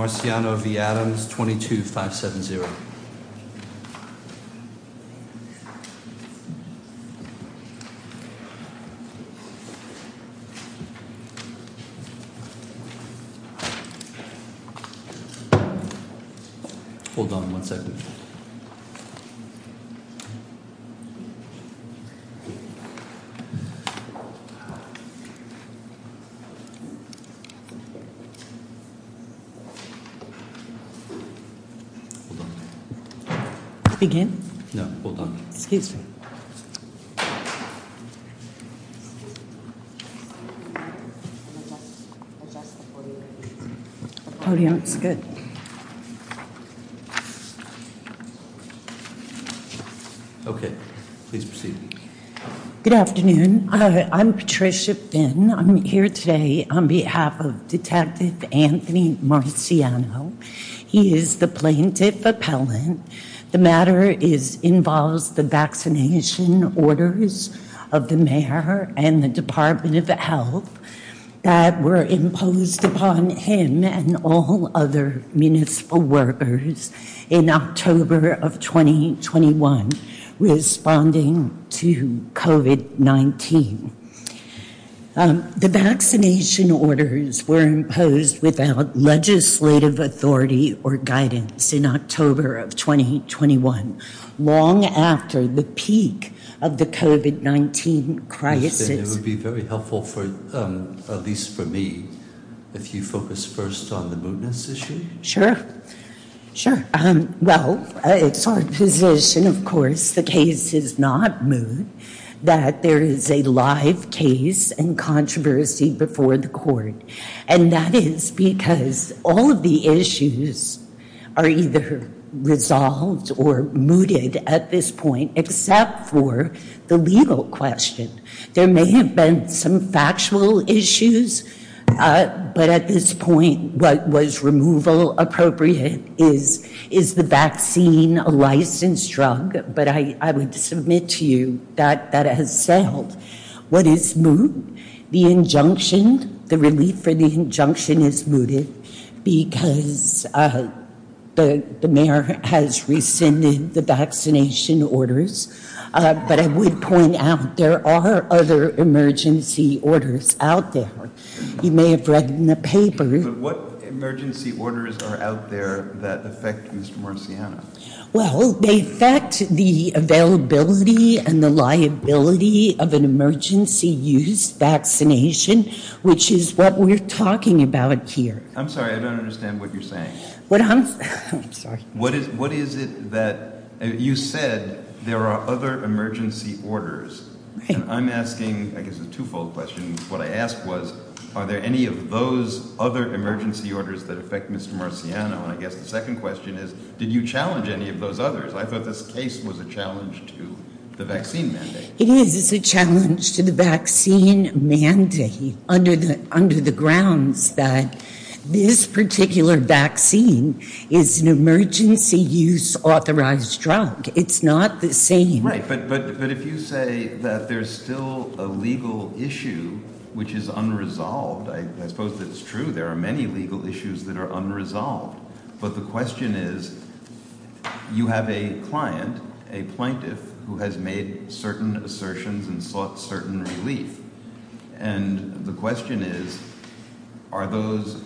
Marciano v. Adams, 22-570 Hold on one second. Hold on. Again? No, hold on. Excuse me. Okay, please proceed. Good afternoon. I'm Patricia Finn. I'm here today on behalf of Detective Anthony Marciano. He is the plaintiff appellant. The matter involves the vaccination orders of the mayor and the Department of Health that were imposed upon him and all other municipal workers in October of 2021 responding to COVID-19. The vaccination orders were imposed without legislative authority or guidance in October of 2021, long after the peak of the COVID-19 crisis. It would be very helpful, at least for me, if you focus first on the mootness issue. Sure. Sure. Well, it's our position, of course, the case is not moot, that there is a live case and controversy before the court. And that is because all of the issues are either resolved or mooted at this point, except for the legal question. There may have been some factual issues, but at this point, what was removal appropriate is the vaccine, a licensed drug, but I would submit to you that that has sailed. What is moot? The injunction, the relief for the injunction is mooted because the mayor has rescinded the vaccination orders. But I would point out, there are other emergency orders out there. You may have read in the paper. What emergency orders are out there that affect Mr. Marciano? Well, they affect the availability and the liability of an emergency use vaccination, which is what we're talking about here. I'm sorry, I don't understand what you're saying. What I'm, I'm sorry. What is, what is it that you said there are other emergency orders? And I'm asking, I guess, a twofold question. What I asked was, are there any of those other emergency orders that affect Mr. Marciano? And I guess the second question is, did you challenge any of those others? I thought this case was a challenge to the vaccine mandate. It is, it's a challenge to the vaccine mandate under the grounds that this particular vaccine is an emergency use authorized drug. It's not the same. Right, but if you say that there's still a legal issue which is unresolved, I suppose that's true. There are many legal issues that are unresolved. But the question is, you have a client, a plaintiff, who has made certain assertions and sought certain relief. And the question is, are those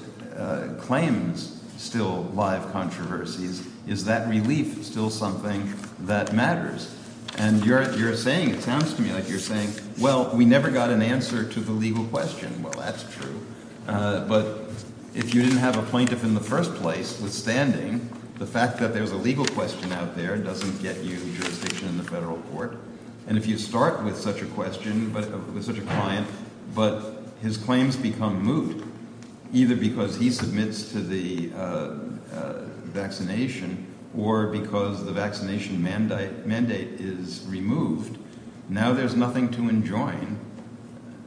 claims still live controversies? Is that relief still something that matters? And you're saying, it sounds to me like you're saying, well, we never got an answer to the legal question. Well, that's true. But if you didn't have a plaintiff in the first place, withstanding the fact that there's a legal question out there doesn't get you jurisdiction in the federal court. And if you start with such a question, with such a client, but his claims become moot, either because he submits to the vaccination or because the vaccination mandate is removed, now there's nothing to enjoin,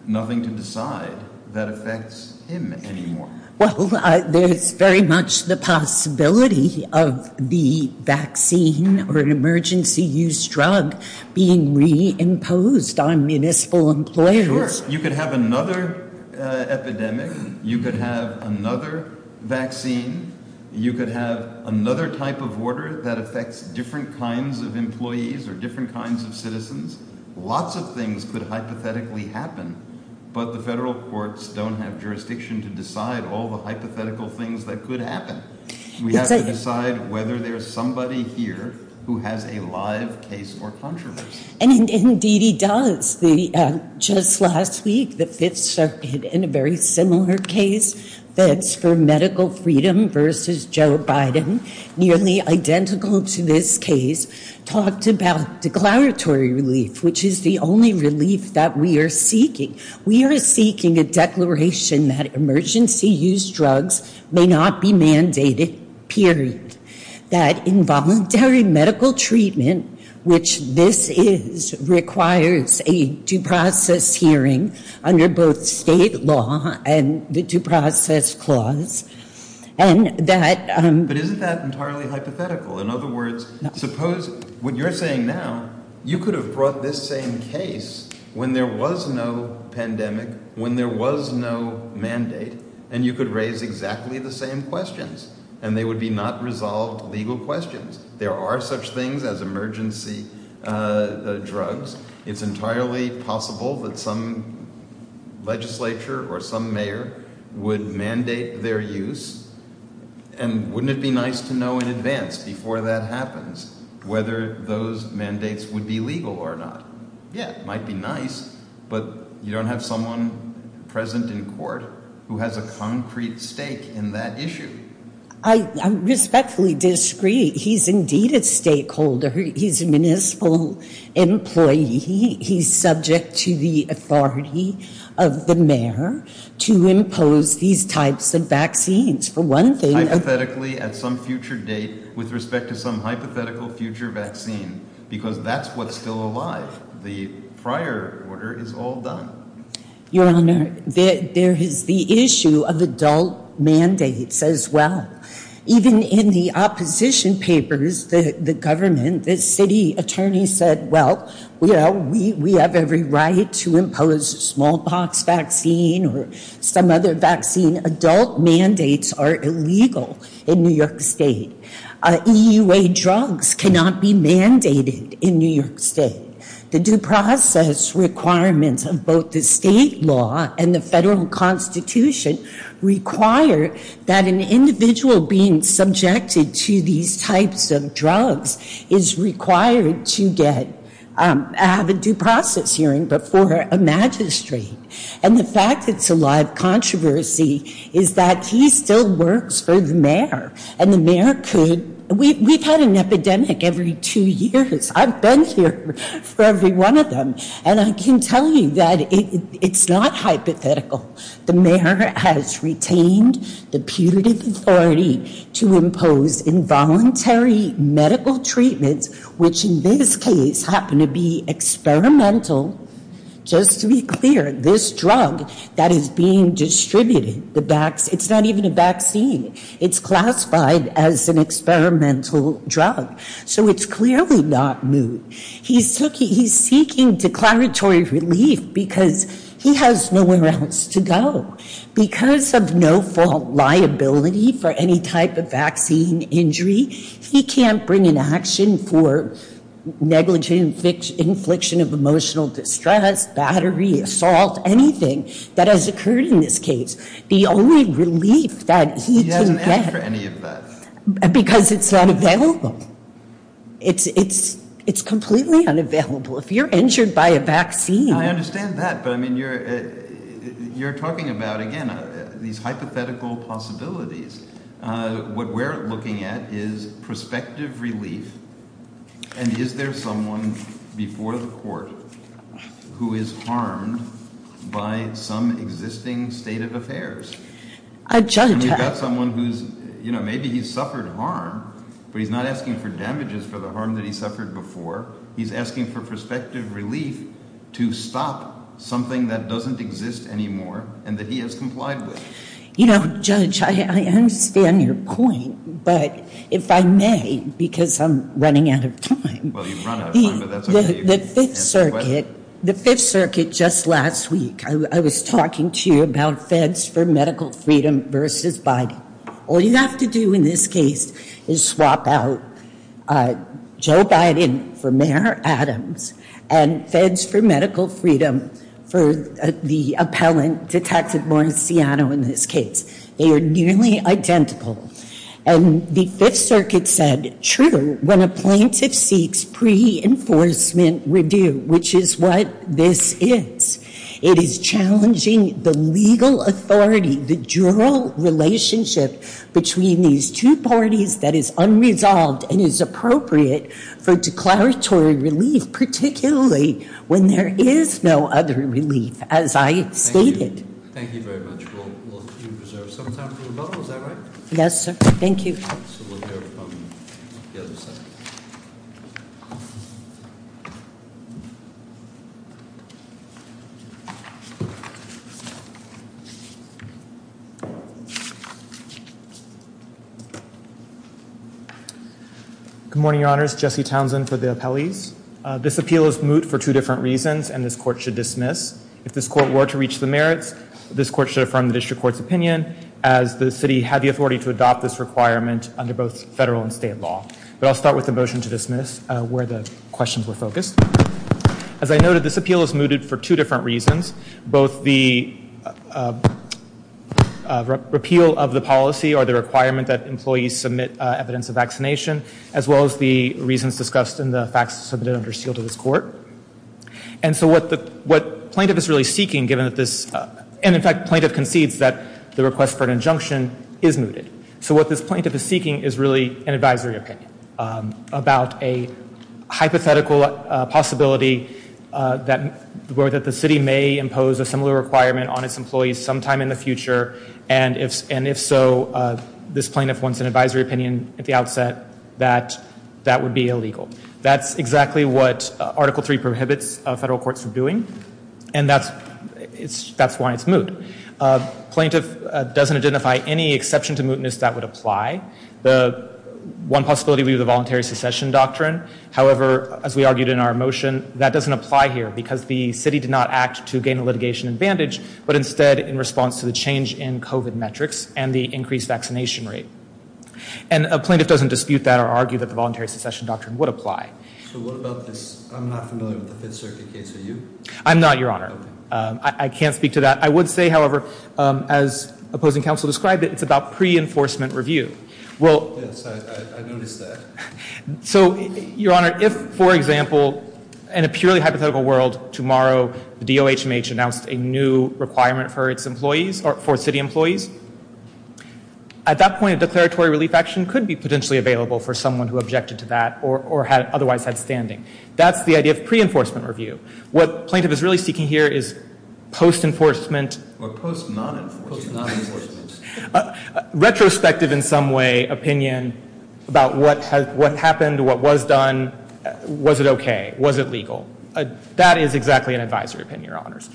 nothing to decide that affects him anymore. Well, there's very much the possibility of the vaccine or an emergency use drug being reimposed on municipal employers. Sure. You could have another epidemic. You could have another vaccine. You could have another type of order that affects different kinds of employees or different kinds of citizens. Lots of things could hypothetically happen. But the federal courts don't have jurisdiction to decide all the hypothetical things that could happen. We have to decide whether there's somebody here who has a live case or controversy. And indeed he does. Just last week, the Fifth Circuit in a very similar case, Feds for Medical Freedom versus Joe Biden, nearly identical to this case, talked about declaratory relief, which is the only relief that we are seeking. We are seeking a declaration that emergency use drugs may not be mandated, period. That involuntary medical treatment, which this is, requires a due process hearing under both state law and the due process clause. But isn't that entirely hypothetical? In other words, suppose what you're saying now, you could have brought this same case when there was no pandemic, when there was no mandate, and you could raise exactly the same questions and they would be not resolved legal questions. There are such things as emergency drugs. It's entirely possible that some legislature or some mayor would mandate their use. And wouldn't it be nice to know in advance, before that happens, whether those mandates would be legal or not? Yeah, it might be nice, but you don't have someone present in court who has a concrete stake in that issue. I respectfully disagree. He's indeed a stakeholder. He's a municipal employee. He's subject to the authority of the mayor to impose these types of vaccines. Hypothetically, at some future date, with respect to some hypothetical future vaccine. Because that's what's still alive. The prior order is all done. Your Honor, there is the issue of adult mandates as well. Even in the opposition papers, the government, the city attorney said, well, we have every right to impose smallpox vaccine or some other vaccine. Adult mandates are illegal in New York State. EUA drugs cannot be mandated in New York State. The due process requirements of both the state law and the federal constitution require that an individual being subjected to these types of drugs is required to have a due process hearing before a magistrate. And the fact it's a live controversy is that he still works for the mayor. And the mayor could, we've had an epidemic every two years. I've been here for every one of them. And I can tell you that it's not hypothetical. The mayor has retained the putative authority to impose involuntary medical treatments, which in this case happen to be experimental. Just to be clear, this drug that is being distributed, it's not even a vaccine. It's classified as an experimental drug. So it's clearly not new. He's seeking declaratory relief because he has nowhere else to go. Because of no-fault liability for any type of vaccine injury, he can't bring an action for negligent infliction of emotional distress, battery, assault, anything that has occurred in this case. The only relief that he can get. He hasn't asked for any of that. Because it's not available. It's completely unavailable. If you're injured by a vaccine. I understand that. But, I mean, you're talking about, again, these hypothetical possibilities. What we're looking at is prospective relief. And is there someone before the court who is harmed by some existing state of affairs? And you've got someone who's, you know, maybe he's suffered harm, but he's not asking for damages for the harm that he suffered before. He's asking for prospective relief to stop something that doesn't exist anymore and that he has complied with. You know, Judge, I understand your point. But if I may, because I'm running out of time. Well, you've run out of time, but that's okay. The Fifth Circuit just last week, I was talking to you about feds for medical freedom versus Biden. All you have to do in this case is swap out Joe Biden for Mayor Adams and feds for medical freedom for the appellant, Detective Mauriziano, in this case. They are nearly identical. And the Fifth Circuit said, when a plaintiff seeks pre-enforcement review, which is what this is, it is challenging the legal authority, the dual relationship between these two parties that is unresolved and is appropriate for declaratory relief, particularly when there is no other relief, as I stated. Thank you very much. We'll reserve some time for rebuttal. Is that right? Yes, sir. Thank you. We'll go from the other side. Good morning, Your Honors. Jesse Townsend for the appellees. This appeal is moot for two different reasons, and this court should dismiss. If this court were to reach the merits, this court should affirm the district court's opinion. As the city had the authority to adopt this requirement under both federal and state law. But I'll start with the motion to dismiss where the questions were focused. As I noted, this appeal is mooted for two different reasons. Both the repeal of the policy or the requirement that employees submit evidence of vaccination, as well as the reasons discussed in the facts submitted under seal to this court. And so what plaintiff is really seeking, given that this, and in fact, plaintiff concedes that the request for an injunction is mooted. So what this plaintiff is seeking is really an advisory opinion about a hypothetical possibility that the city may impose a similar requirement on its employees sometime in the future. And if so, this plaintiff wants an advisory opinion at the outset that that would be illegal. That's exactly what Article 3 prohibits federal courts from doing. And that's why it's moot. Plaintiff doesn't identify any exception to mootness that would apply. The one possibility would be the voluntary succession doctrine. However, as we argued in our motion, that doesn't apply here because the city did not act to gain a litigation advantage, but instead in response to the change in COVID metrics and the increased vaccination rate. And a plaintiff doesn't dispute that or argue that the voluntary succession doctrine would apply. So what about this? I'm not familiar with the Fifth Circuit case. Are you? I'm not, Your Honor. I can't speak to that. I would say, however, as opposing counsel described it, it's about pre-enforcement review. Yes, I noticed that. So, Your Honor, if, for example, in a purely hypothetical world, tomorrow the DOHMH announced a new requirement for its employees or for city employees, at that point a declaratory relief action could be potentially available for someone who objected to that or otherwise had standing. That's the idea of pre-enforcement review. What plaintiff is really seeking here is post-enforcement. Or post-non-enforcement. Post-non-enforcement. Retrospective, in some way, opinion about what happened, what was done, was it okay, was it legal. That is exactly an advisory opinion, Your Honors.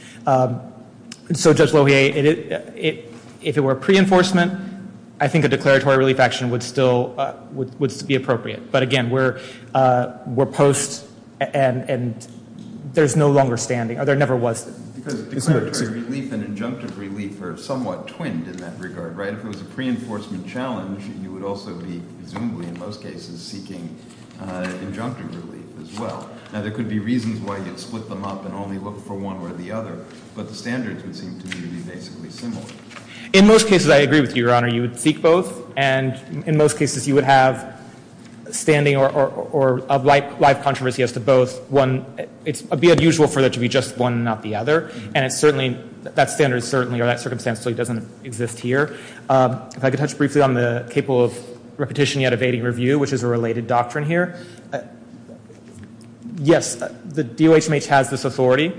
So, Judge Lohier, if it were pre-enforcement, I think a declaratory relief action would still be appropriate. But, again, we're post and there's no longer standing. There never was. Because declaratory relief and injunctive relief are somewhat twinned in that regard, right? If it was a pre-enforcement challenge, you would also be, presumably in most cases, seeking injunctive relief as well. Now, there could be reasons why you'd split them up and only look for one or the other. But the standards would seem to me to be basically similar. In most cases, I agree with you, Your Honor. You would seek both. And in most cases, you would have standing or a live controversy as to both. One, it would be unusual for there to be just one and not the other. And it certainly, that standard certainly or that circumstance certainly doesn't exist here. If I could touch briefly on the capable of repetition yet evading review, which is a related doctrine here. Yes, the DOHMH has this authority.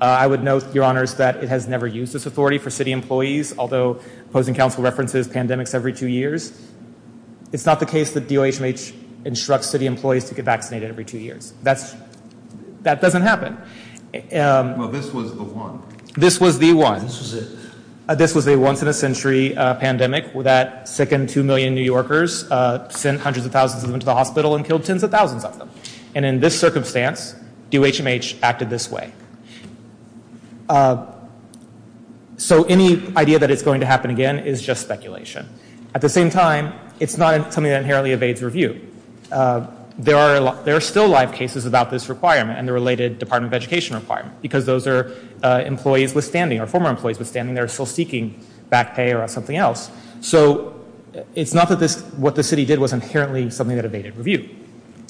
I would note, Your Honor, that it has never used this authority for city employees, although opposing counsel references pandemics every two years. It's not the case that DOHMH instructs city employees to get vaccinated every two years. That doesn't happen. Well, this was the one. This was the one. This was a once-in-a-century pandemic that sickened two million New Yorkers, sent hundreds of thousands of them to the hospital and killed tens of thousands of them. And in this circumstance, DOHMH acted this way. So any idea that it's going to happen again is just speculation. At the same time, it's not something that inherently evades review. There are still live cases about this requirement and the related Department of Education requirement because those are employees withstanding or former employees withstanding. They're still seeking back pay or something else. So it's not that what the city did was inherently something that evaded review.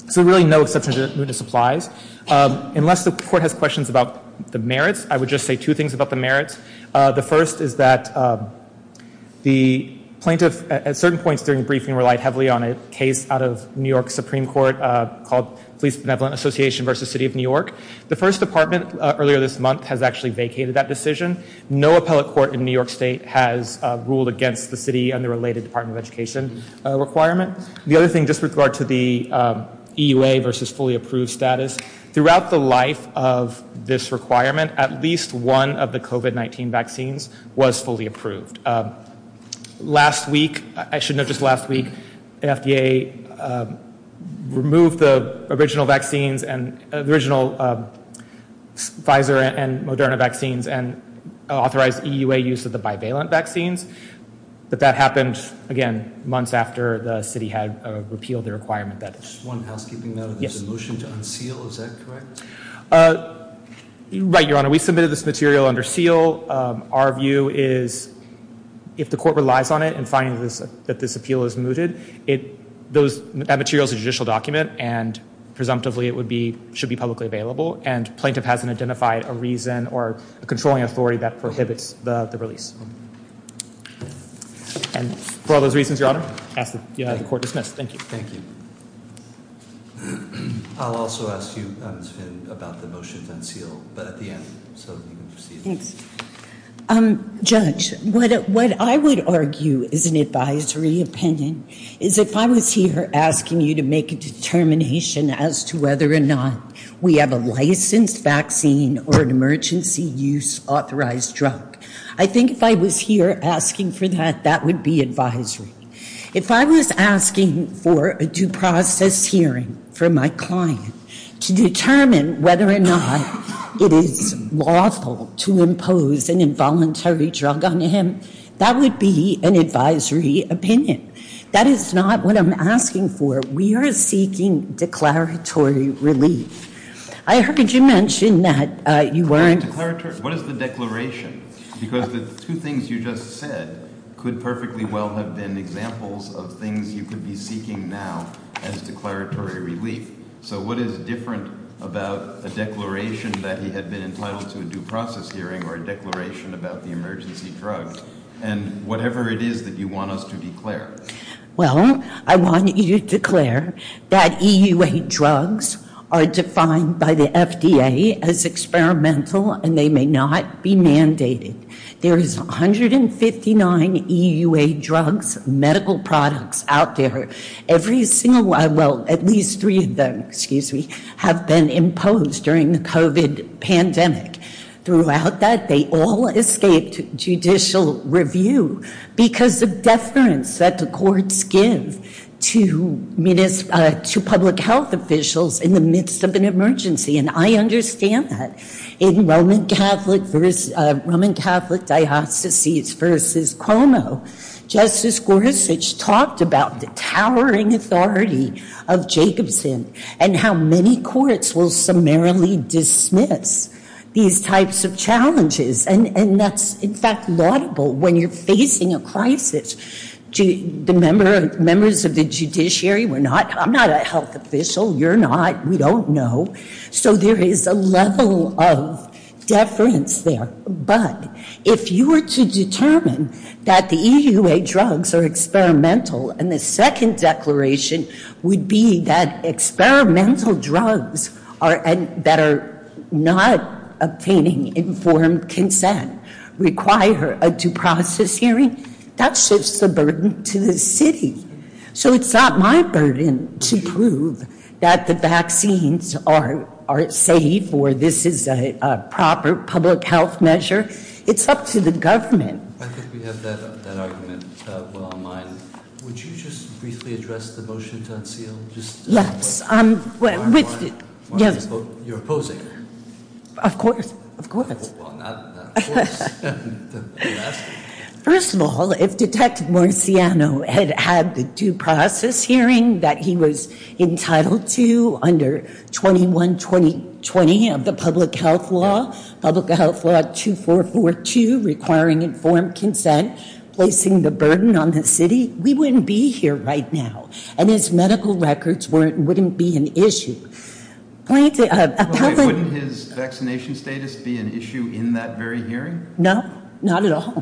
So really, no exception to this applies. Unless the court has questions about the merits, I would just say two things about the merits. The first is that the plaintiff at certain points during the briefing relied heavily on a case out of New York Supreme Court called Police Benevolent Association v. City of New York. The first department earlier this month has actually vacated that decision. No appellate court in New York State has ruled against the city and the related Department of Education requirement. The other thing, just with regard to the EUA v. fully approved status, throughout the life of this requirement, at least one of the COVID-19 vaccines was fully approved. Last week, I should note just last week, the FDA removed the original Pfizer and Moderna vaccines and authorized EUA use of the bivalent vaccines. But that happened, again, months after the city had repealed the requirement. Just one housekeeping note. There's a motion to unseal. Is that correct? Right, Your Honor. We submitted this material under seal. Our view is if the court relies on it and finds that this appeal is mooted, that material is a judicial document and presumptively it should be publicly available and plaintiff hasn't identified a reason or a controlling authority that prohibits the release. And for all those reasons, Your Honor, I ask that the court dismiss. Thank you. Thank you. I'll also ask you, Ms. Finn, about the motion to unseal, but at the end so you can proceed. Thanks. Judge, what I would argue is an advisory opinion is if I was here asking you to make a determination as to whether or not we have a licensed vaccine or an emergency use authorized drug, I think if I was here asking for that, that would be advisory. If I was asking for a due process hearing for my client to determine whether or not it is lawful to impose an involuntary drug on him, that would be an advisory opinion. That is not what I'm asking for. We are seeking declaratory relief. I heard you mention that you weren't... What is the declaration? Because the two things you just said could perfectly well have been examples of things you could be seeking now as declaratory relief. So what is different about a declaration that he had been entitled to a due process hearing or a declaration about the emergency drug and whatever it is that you want us to declare? Well, I want you to declare that EUA drugs are defined by the FDA as experimental and they may not be mandated. There is 159 EUA drugs, medical products out there. Every single one, well, at least three of them, excuse me, have been imposed during the COVID pandemic. Throughout that, they all escaped judicial review because of deference that the courts give to public health officials in the midst of an emergency. And I understand that. In Roman Catholic Diocese versus Cuomo, Justice Gorsuch talked about the towering authority of Jacobson and how many courts will summarily dismiss these types of challenges. And that's, in fact, laudable when you're facing a crisis. The members of the judiciary were not... I'm not a health official. You're not. We don't know. So there is a level of deference there. But if you were to determine that the EUA drugs are experimental and the second declaration would be that experimental drugs that are not obtaining informed consent require a due process hearing, that shifts the burden to the city. So it's not my burden to prove that the vaccines are safe or this is a proper public health measure. It's up to the government. I think we have that argument well in mind. Would you just briefly address the motion to unseal? Yes. Of course. Well, not of course. First of all, if Detective Marciano had had the due process hearing that he was entitled to under 21-2020 of the public health law, public health law 2442 requiring informed consent, placing the burden on the city, we wouldn't be here right now. Wouldn't his vaccination status be an issue in that very hearing? No. Not at all.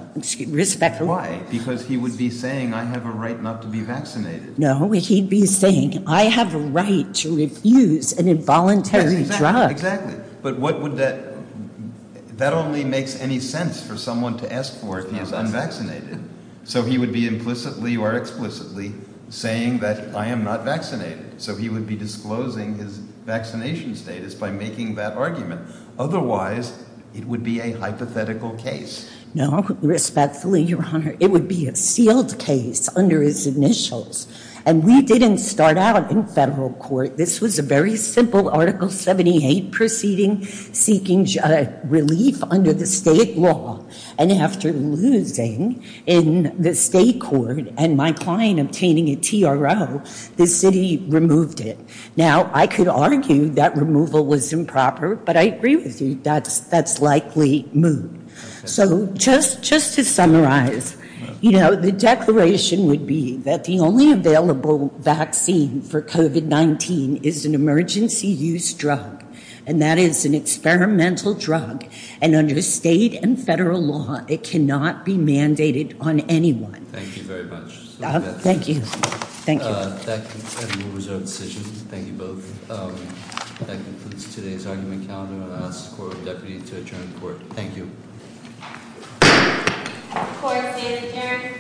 Why? Because he would be saying I have a right not to be vaccinated. No. He'd be saying I have a right to refuse an involuntary drug. Exactly. But that only makes any sense for someone to ask for if he is unvaccinated. So he would be implicitly or explicitly saying that I am not vaccinated. So he would be disclosing his vaccination status by making that argument. Otherwise, it would be a hypothetical case. No. Respectfully, Your Honor, it would be a sealed case under his initials. And we didn't start out in federal court. This was a very simple Article 78 proceeding seeking relief under the state law. And after losing in the state court and my client obtaining a TRO, the city removed it. Now, I could argue that removal was improper, but I agree with you. That's likely moot. So just to summarize, you know, the declaration would be that the only available vaccine for COVID-19 is an emergency use drug. And that is an experimental drug. And under state and federal law, it cannot be mandated on anyone. Thank you very much. Thank you. Thank you. That moves our decision. Thank you both. That concludes today's argument calendar. I'll ask the Court of Deputy to adjourn court. Thank you. Court is adjourned.